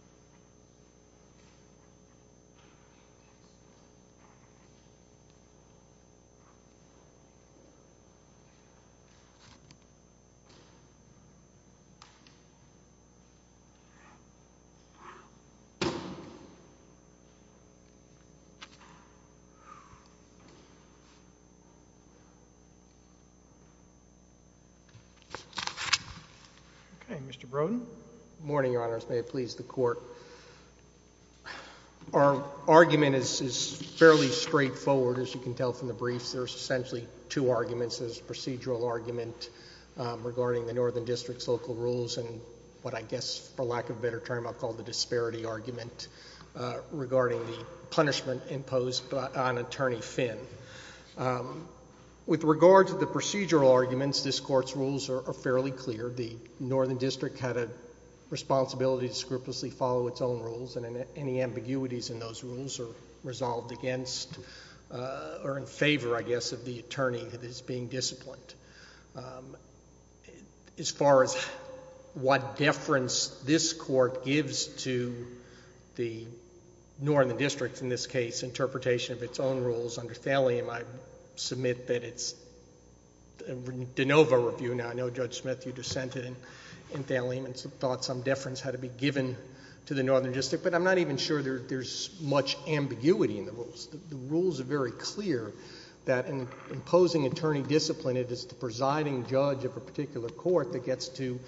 Yeah, sure. Our argument is fairly straightforward, as you can tell from the briefs. There's essentially two arguments, there's a procedural argument regarding the Northern District's local rules and what I guess, for lack of a better term, I'll call the disparity argument regarding the punishment imposed on Attorney Finn. With regard to the procedural arguments, this court's rules are fairly clear. The Northern District had a responsibility to scrupulously follow its own rules and any ambiguities in those rules are resolved against or in favor, I guess, of the attorney that is being disciplined. As far as what deference this court gives to the Northern District, in this case, interpretation of its own rules under Thallium, I submit that it's... DeNova Review, now I know Judge Smith, you dissented in Thallium and thought some deference had to be given to the Northern District, but I'm not even sure there's much ambiguity in the rules. The rules are very clear that in imposing attorney discipline, it is the presiding judge of a particular court that gets to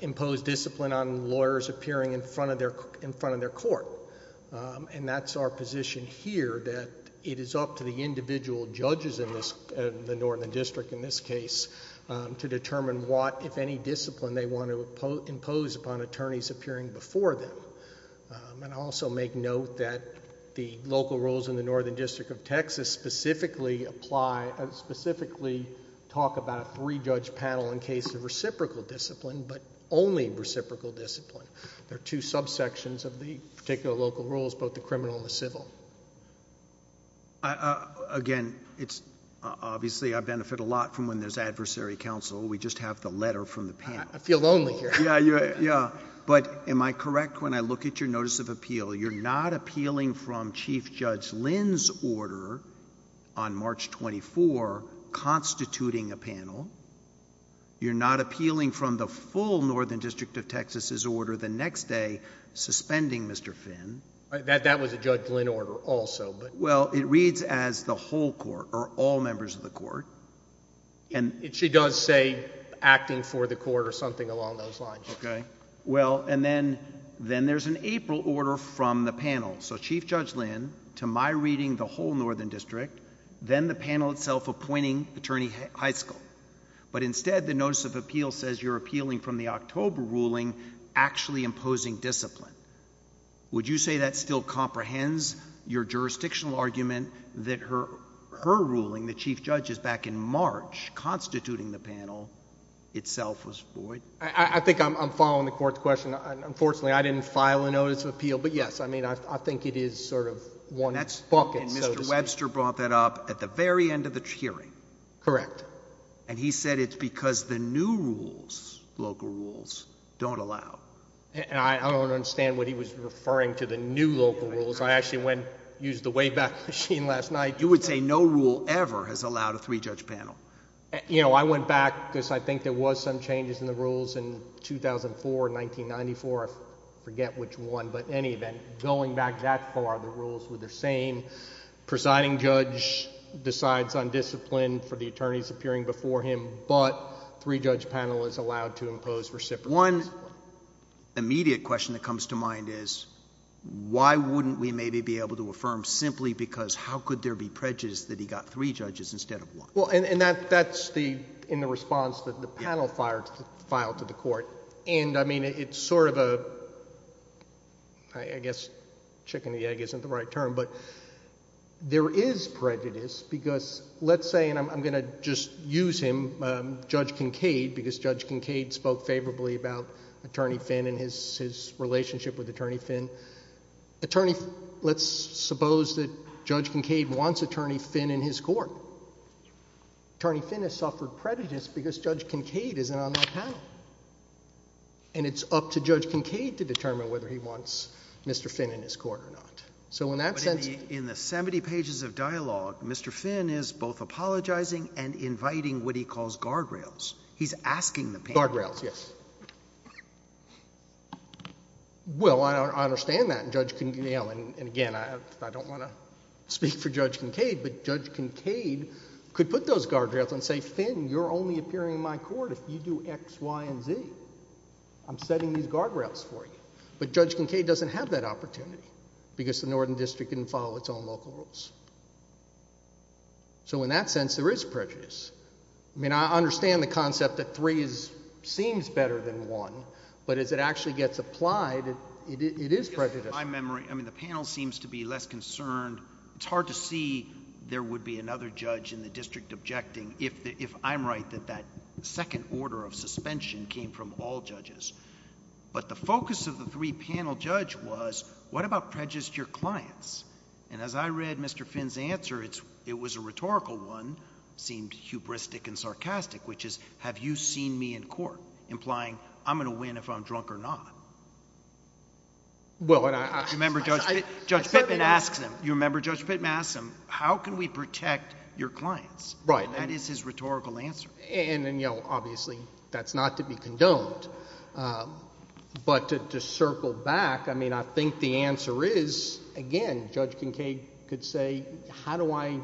impose discipline on lawyers appearing in front of their court. That's our position here, that it is up to the individual judges in the Northern District, in this case, to determine what, if any, discipline they want to impose upon attorneys appearing before them. I also make note that the local rules in the Northern District of Texas specifically talk about three-judge panel in case of reciprocal discipline, but only reciprocal discipline. There are two subsections of the particular local rules, both the criminal and the civil. Again, it's... obviously, I benefit a lot from when there's adversary counsel. We just have the letter from the panel. I feel lonely here. Yeah, but am I correct when I look at your notice of appeal? You're not appealing from Chief Judge Lynn's order on March 24, constituting a panel. You're not appealing from the full Northern District of Texas's order the next day, suspending Mr. Finn. That was a Judge Lynn order also, but... Well, it reads as the whole court or all members of the court. She does say acting for the court or something along those lines. Then there's an April order from the panel, so Chief Judge Lynn, to my reading, the whole Northern District, then the panel itself appointing Attorney Heiskell, but instead, the notice of appeal says you're appealing from the October ruling actually imposing discipline. Would you say that still comprehends your jurisdictional argument that her ruling, the Chief Judge's back in March constituting the panel, itself was void? I think I'm following the court's question. Unfortunately, I didn't file a notice of appeal, but yes, I mean, I think it is sort of one bucket, so to speak. Mr. Webster brought that up at the very end of the hearing. Correct. He said it's because the new rules, local rules, don't allow. And I don't understand what he was referring to the new local rules. I actually went and used the Wayback Machine last night. You would say no rule ever has allowed a three-judge panel. You know, I went back because I think there was some changes in the rules in 2004, 1994. I forget which one, but in any event, going back that far, the rules were the same. Presiding Judge decides on discipline for the attorneys appearing before him, but three-judge panel is allowed to impose reciprocal discipline. The one immediate question that comes to mind is, why wouldn't we maybe be able to affirm simply because how could there be prejudice that he got three judges instead of one? Well, and that's in the response that the panel filed to the court, and I mean, it's sort of a, I guess chicken and the egg isn't the right term, but there is prejudice because let's say, and I'm going to just use him, Judge Kincaid, because Judge Kincaid spoke favorably about Attorney Finn and his relationship with Attorney Finn. Let's suppose that Judge Kincaid wants Attorney Finn in his court. Attorney Finn has suffered prejudice because Judge Kincaid isn't on that panel, and it's up to Judge Kincaid to determine whether he wants Mr. Finn in his court or not. So in that sense— But in the 70 pages of dialogue, Mr. Finn is both apologizing and inviting what he calls guardrails. He's asking the panel— Guardrails, yes. Well, I understand that, and again, I don't want to speak for Judge Kincaid, but Judge Kincaid could put those guardrails and say, Finn, you're only appearing in my court if you do X, Y, and Z. I'm setting these guardrails for you, but Judge Kincaid doesn't have that opportunity because the Northern District didn't follow its own local rules. So in that sense, there is prejudice. I mean, I understand the concept that three seems better than one, but as it actually gets applied, it is prejudicial. In my memory, I mean, the panel seems to be less concerned—it's hard to see there would be another judge in the district objecting if I'm right that that second order of suspension came from all judges. But the focus of the three-panel judge was, what about prejudice to your clients? And as I read Mr. Finn's answer, it was a rhetorical one, seemed hubristic and sarcastic, which is, have you seen me in court, implying I'm going to win if I'm drunk or not? Well, and I— You remember Judge Pittman asks him, you remember Judge Pittman asks him, how can we protect your clients? Right. That is his rhetorical answer. And, you know, obviously, that's not to be condoned. But to circle back, I mean, I think the answer is, again, Judge Kincaid could say, how do I—you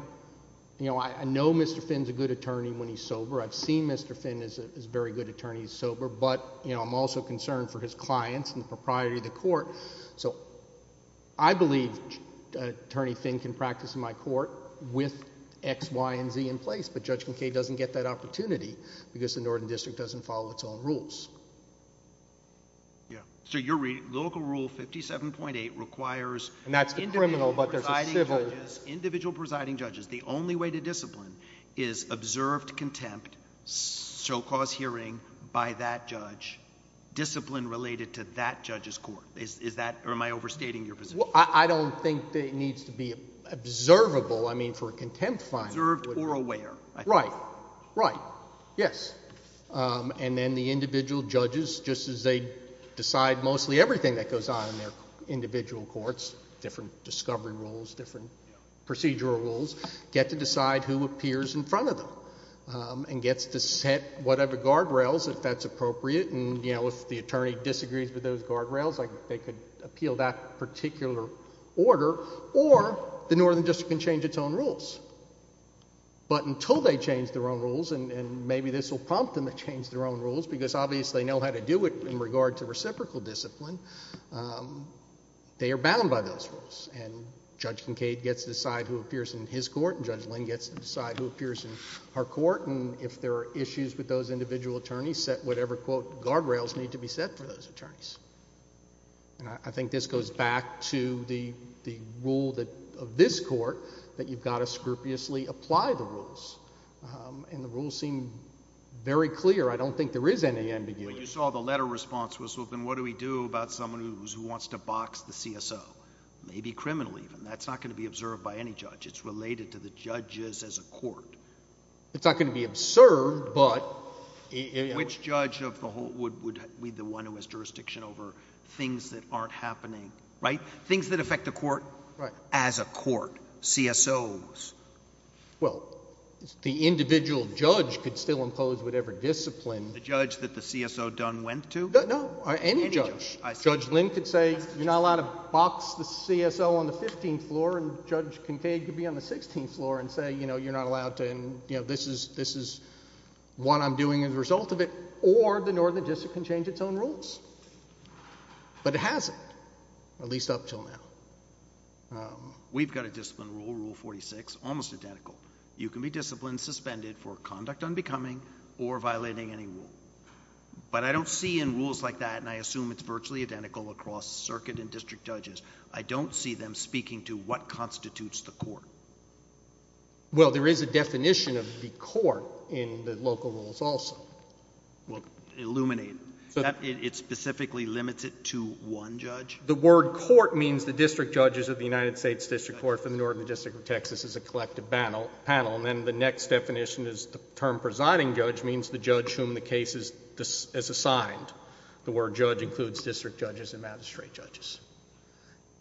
know, I know Mr. Finn's a good attorney when he's sober. I've seen Mr. Finn as a very good attorney sober, but, you know, I'm also concerned for his clients and the propriety of the court. So I believe Attorney Finn can practice in my court with X, Y, and Z in place, but Judge Kincaid doesn't get that opportunity because the Northern District doesn't follow its own rules. Yeah. So your lyrical rule, 57.8, requires— And that's the criminal, but there's a civil— Individual presiding judges. The only way to discipline is observed contempt, so-called hearing by that judge, discipline related to that judge's court. Is that—or am I overstating your position? Well, I don't think that it needs to be observable. I mean, for a contempt finding— Observed or aware. Right. Right. Yes. And then the individual judges, just as they decide mostly everything that goes on in their individual courts—different discovery rules, different procedural rules—get to decide who appears in front of them and gets to set whatever guardrails, if that's appropriate. And, you know, if the attorney disagrees with those guardrails, they could appeal that particular order or the Northern District can change its own rules. But until they change their own rules—and maybe this will prompt them to change their own rules because, obviously, they know how to do it in regard to reciprocal discipline—they are bound by those rules. And Judge Kincaid gets to decide who appears in his court, and Judge Lynn gets to decide who appears in her court, and if there are issues with those individual attorneys, set whatever, quote, guardrails need to be set for those attorneys. And I think this goes back to the rule of this court, that you've got to scrupulously apply the rules, and the rules seem very clear. I don't think there is any ambiguity. But you saw the letter response was, well, then what do we do about someone who wants to box the CSO? Maybe criminal even. That's not going to be observed by any judge. It's related to the judges as a court. It's not going to be observed, but— Which judge of the whole would be the one who has jurisdiction over things that aren't happening? Right? Things that affect the court as a court, CSOs. Well, the individual judge could still impose whatever discipline— The judge that the CSO Dunn went to? No, no. Any judge. Judge Lynn could say, you're not allowed to box the CSO on the 15th floor, and Judge Kincaid could be on the 16th floor and say, you know, you're not allowed to, and, you know, the result of it, or the Northern District can change its own rules. But it hasn't. At least up until now. We've got a discipline rule, Rule 46, almost identical. You can be disciplined, suspended for conduct unbecoming or violating any rule. But I don't see in rules like that, and I assume it's virtually identical across circuit and district judges, I don't see them speaking to what constitutes the court. Well, there is a definition of the court in the local rules also. Well, illuminate. It specifically limits it to one judge? The word court means the district judges of the United States District Court for the Northern District of Texas as a collective panel, and then the next definition is the term presiding judge means the judge whom the case is assigned. The word judge includes district judges and magistrate judges.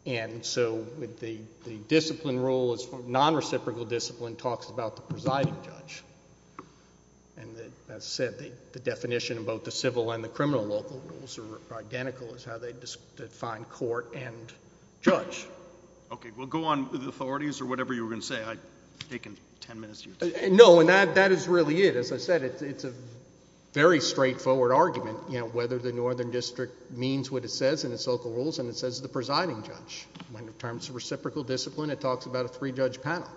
And so the discipline rule is non-reciprocal discipline, talks about the presiding judge. And as I said, the definition of both the civil and the criminal local rules are identical as how they define court and judge. Okay. Well, go on with the authorities or whatever you were going to say. I've taken 10 minutes here. No. And that is really it. As I said, it's a very straightforward argument, you know, whether the Northern District means what it says in its local rules and it says the presiding judge. When it comes to reciprocal discipline, it talks about a three-judge panel.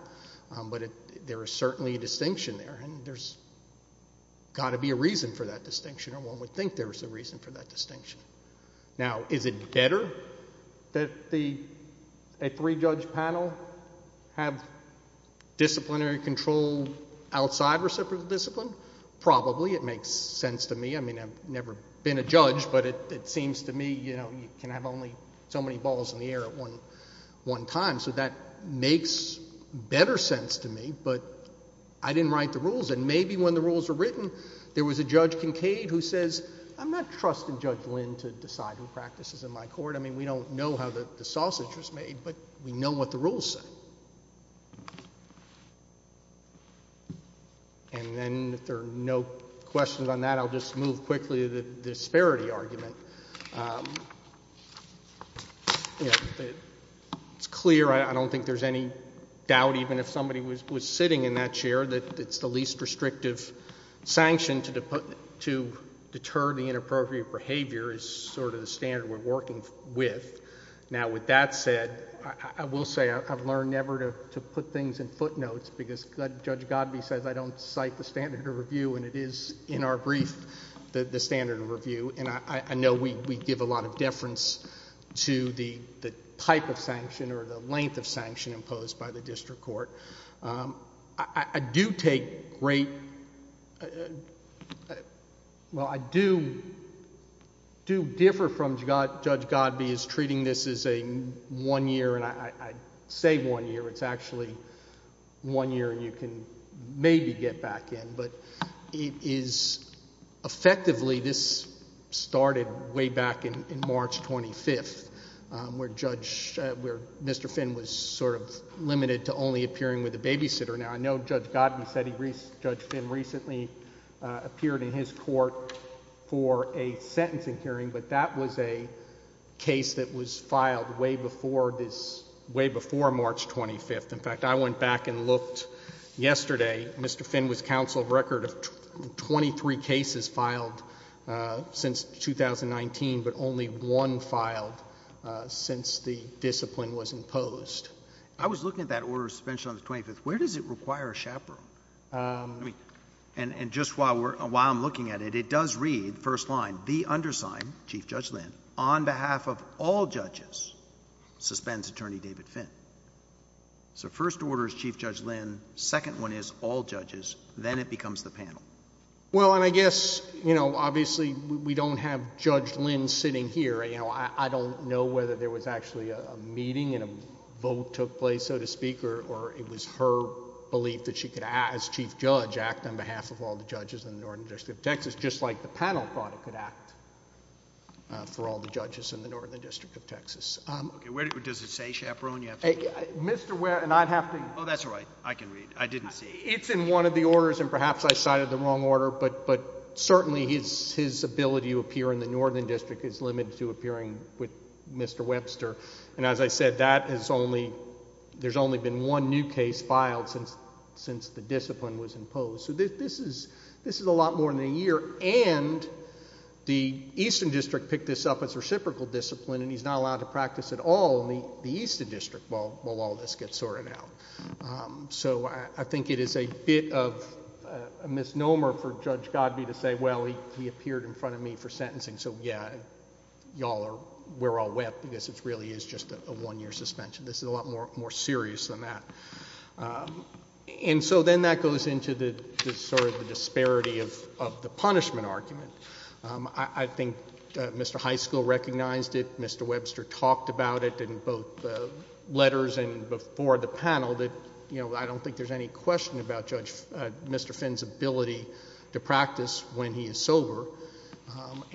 But there is certainly a distinction there, and there's got to be a reason for that distinction or one would think there was a reason for that distinction. Now is it better that a three-judge panel have disciplinary control outside reciprocal discipline? Probably. It makes sense to me. I mean, I've never been a judge, but it seems to me, you know, you can have only so many balls in the air at one time. So that makes better sense to me, but I didn't write the rules. And maybe when the rules are written, there was a Judge Kincaid who says, I'm not trusting Judge Lynn to decide who practices in my court. I mean, we don't know how the sausage was made, but we know what the rules say. And then if there are no questions on that, I'll just move quickly to the disparity argument. It's clear, I don't think there's any doubt even if somebody was sitting in that chair that it's the least restrictive sanction to deter the inappropriate behavior is sort of the standard we're working with. Now with that said, I will say I've learned never to put things in footnotes because Judge Godbee says I don't cite the standard of review, and it is in our brief, the standard of review. And I know we give a lot of deference to the type of sanction or the length of sanction imposed by the district court. I do take great, well, I do differ from Judge Godbee is treating this as a one year, and I say one year, it's actually one year and you can maybe get back in. But it is effectively, this started way back in March 25th, where Mr. Finn was sort of hearing with the babysitter. Now, I know Judge Godbee said Judge Finn recently appeared in his court for a sentencing hearing, but that was a case that was filed way before this, way before March 25th. In fact, I went back and looked yesterday, Mr. Finn was counsel of record of 23 cases filed since 2019, but only one filed since the discipline was imposed. I was looking at that order of suspension on the 25th, where does it require a chaperone? And just while I'm looking at it, it does read, first line, the undersigned, Chief Judge Lynn, on behalf of all judges, suspends Attorney David Finn. So first order is Chief Judge Lynn, second one is all judges, then it becomes the panel. Well, and I guess, you know, obviously we don't have Judge Lynn sitting here, you know, I don't know whether there was actually a meeting and a vote took place, so to speak, or it was her belief that she could act as Chief Judge, act on behalf of all the judges in the Northern District of Texas, just like the panel thought it could act for all the judges in the Northern District of Texas. Does it say chaperone? You have to read it. Mr. Ware, and I'd have to. Oh, that's all right. I can read. I didn't see. It's in one of the orders, and perhaps I cited the wrong order, but certainly his ability to appear in the Northern District is limited to appearing with Mr. Webster, and as I said, that is only... there's only been one new case filed since the discipline was imposed. So this is a lot more than a year, and the Eastern District picked this up as reciprocal discipline, and he's not allowed to practice at all in the Eastern District while all this gets sorted out. So I think it is a bit of a misnomer for Judge Godbee to say, well, he appeared in front of me for sentencing, so yeah, y'all are... we're all wet because it really is just a one-year suspension. This is a lot more serious than that. And so then that goes into the sort of the disparity of the punishment argument. I think Mr. Highschool recognized it, Mr. Webster talked about it in both letters and before the panel that, you know, I don't think there's any question about Judge... Mr.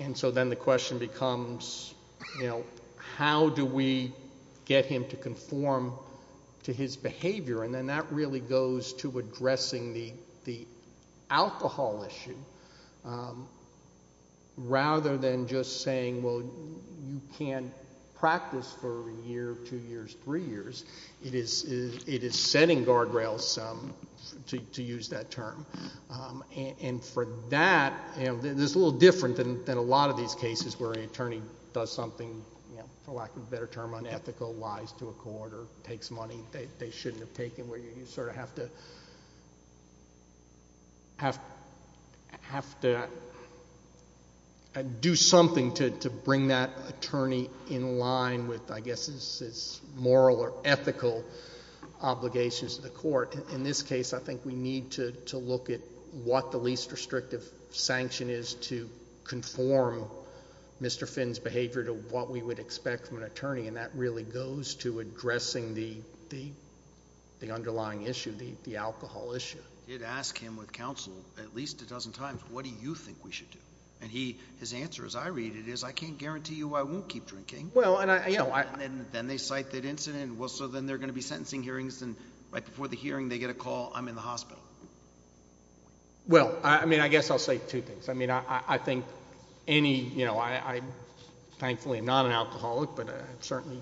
And so then the question becomes, you know, how do we get him to conform to his behavior? And then that really goes to addressing the alcohol issue rather than just saying, well, you can't practice for a year, two years, three years. It is setting guardrails, to use that term. And for that, you know, there's a little different than a lot of these cases where an attorney does something, for lack of a better term, unethical, lies to a court or takes money they shouldn't have taken, where you sort of have to... have to do something to bring that attorney in line with, I guess, his moral or ethical obligations to the court. In this case, I think we need to look at what the least restrictive sanction is to conform Mr. Finn's behavior to what we would expect from an attorney, and that really goes to addressing the underlying issue, the alcohol issue. You'd ask him with counsel at least a dozen times, what do you think we should do? And his answer, as I read it, is, I can't guarantee you I won't keep drinking. Well, and I... And then they cite that incident, and so then they're going to be sentencing hearings and right before the hearing, they get a call, I'm in the hospital. Well, I mean, I guess I'll say two things. I mean, I think any... you know, I'm thankfully not an alcoholic, but I've certainly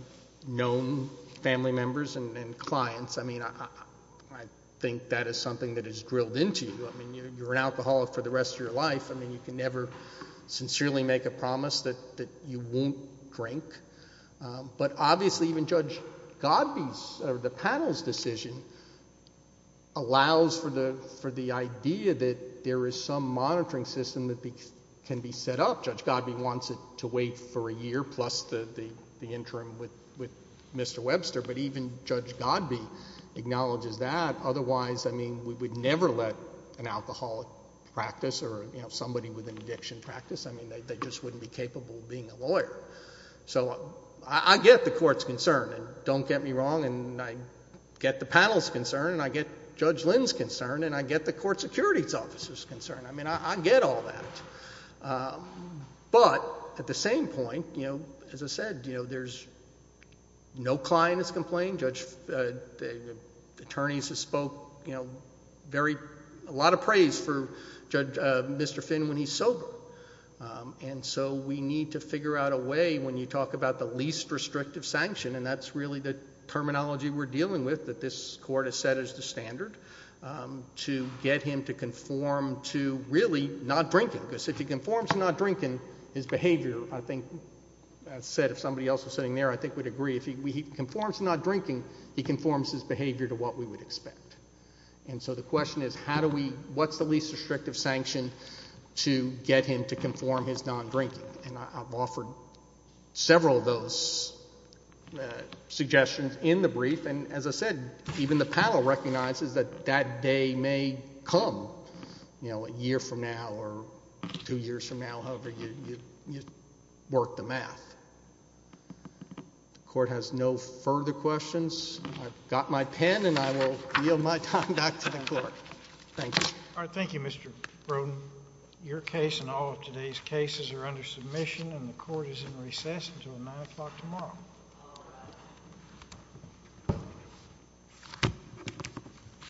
known family members and clients. I mean, I think that is something that is drilled into you. I mean, you're an alcoholic for the rest of your life. I mean, you can never sincerely make a promise that you won't drink. But obviously, even Judge Godby's or the panel's decision allows for the idea that there is some monitoring system that can be set up. Judge Godby wants it to wait for a year plus the interim with Mr. Webster, but even Judge Godby acknowledges that. Otherwise, I mean, we would never let an alcoholic practice or, you know, somebody with an addiction practice, I mean, they just wouldn't be capable of being a lawyer. So, I get the court's concern, and don't get me wrong, and I get the panel's concern, and I get Judge Lynn's concern, and I get the court security's officer's concern. I mean, I get all that, but at the same point, you know, as I said, you know, there's... no client has complained. Judge... the attorneys have spoke, you know, very... a lot of praise for Judge... Mr. Finn when he's sober. And so, we need to figure out a way when you talk about the least restrictive sanction, and that's really the terminology we're dealing with that this court has set as the standard, to get him to conform to really not drinking, because if he conforms to not drinking, his behavior, I think... I said if somebody else was sitting there, I think we'd agree. If he conforms to not drinking, he conforms his behavior to what we would expect. And so, the question is, how do we... what's the least restrictive sanction to get him to conform his non-drinking? And I've offered several of those suggestions in the brief, and as I said, even the panel recognizes that that day may come, you know, a year from now, or two years from now, however you work the math. The court has no further questions. I've got my pen, and I will yield my time back to the court. Thank you. All right. Thank you, Mr. Broden. Your case and all of today's cases are under submission, and the court is in recess until 9 o'clock tomorrow.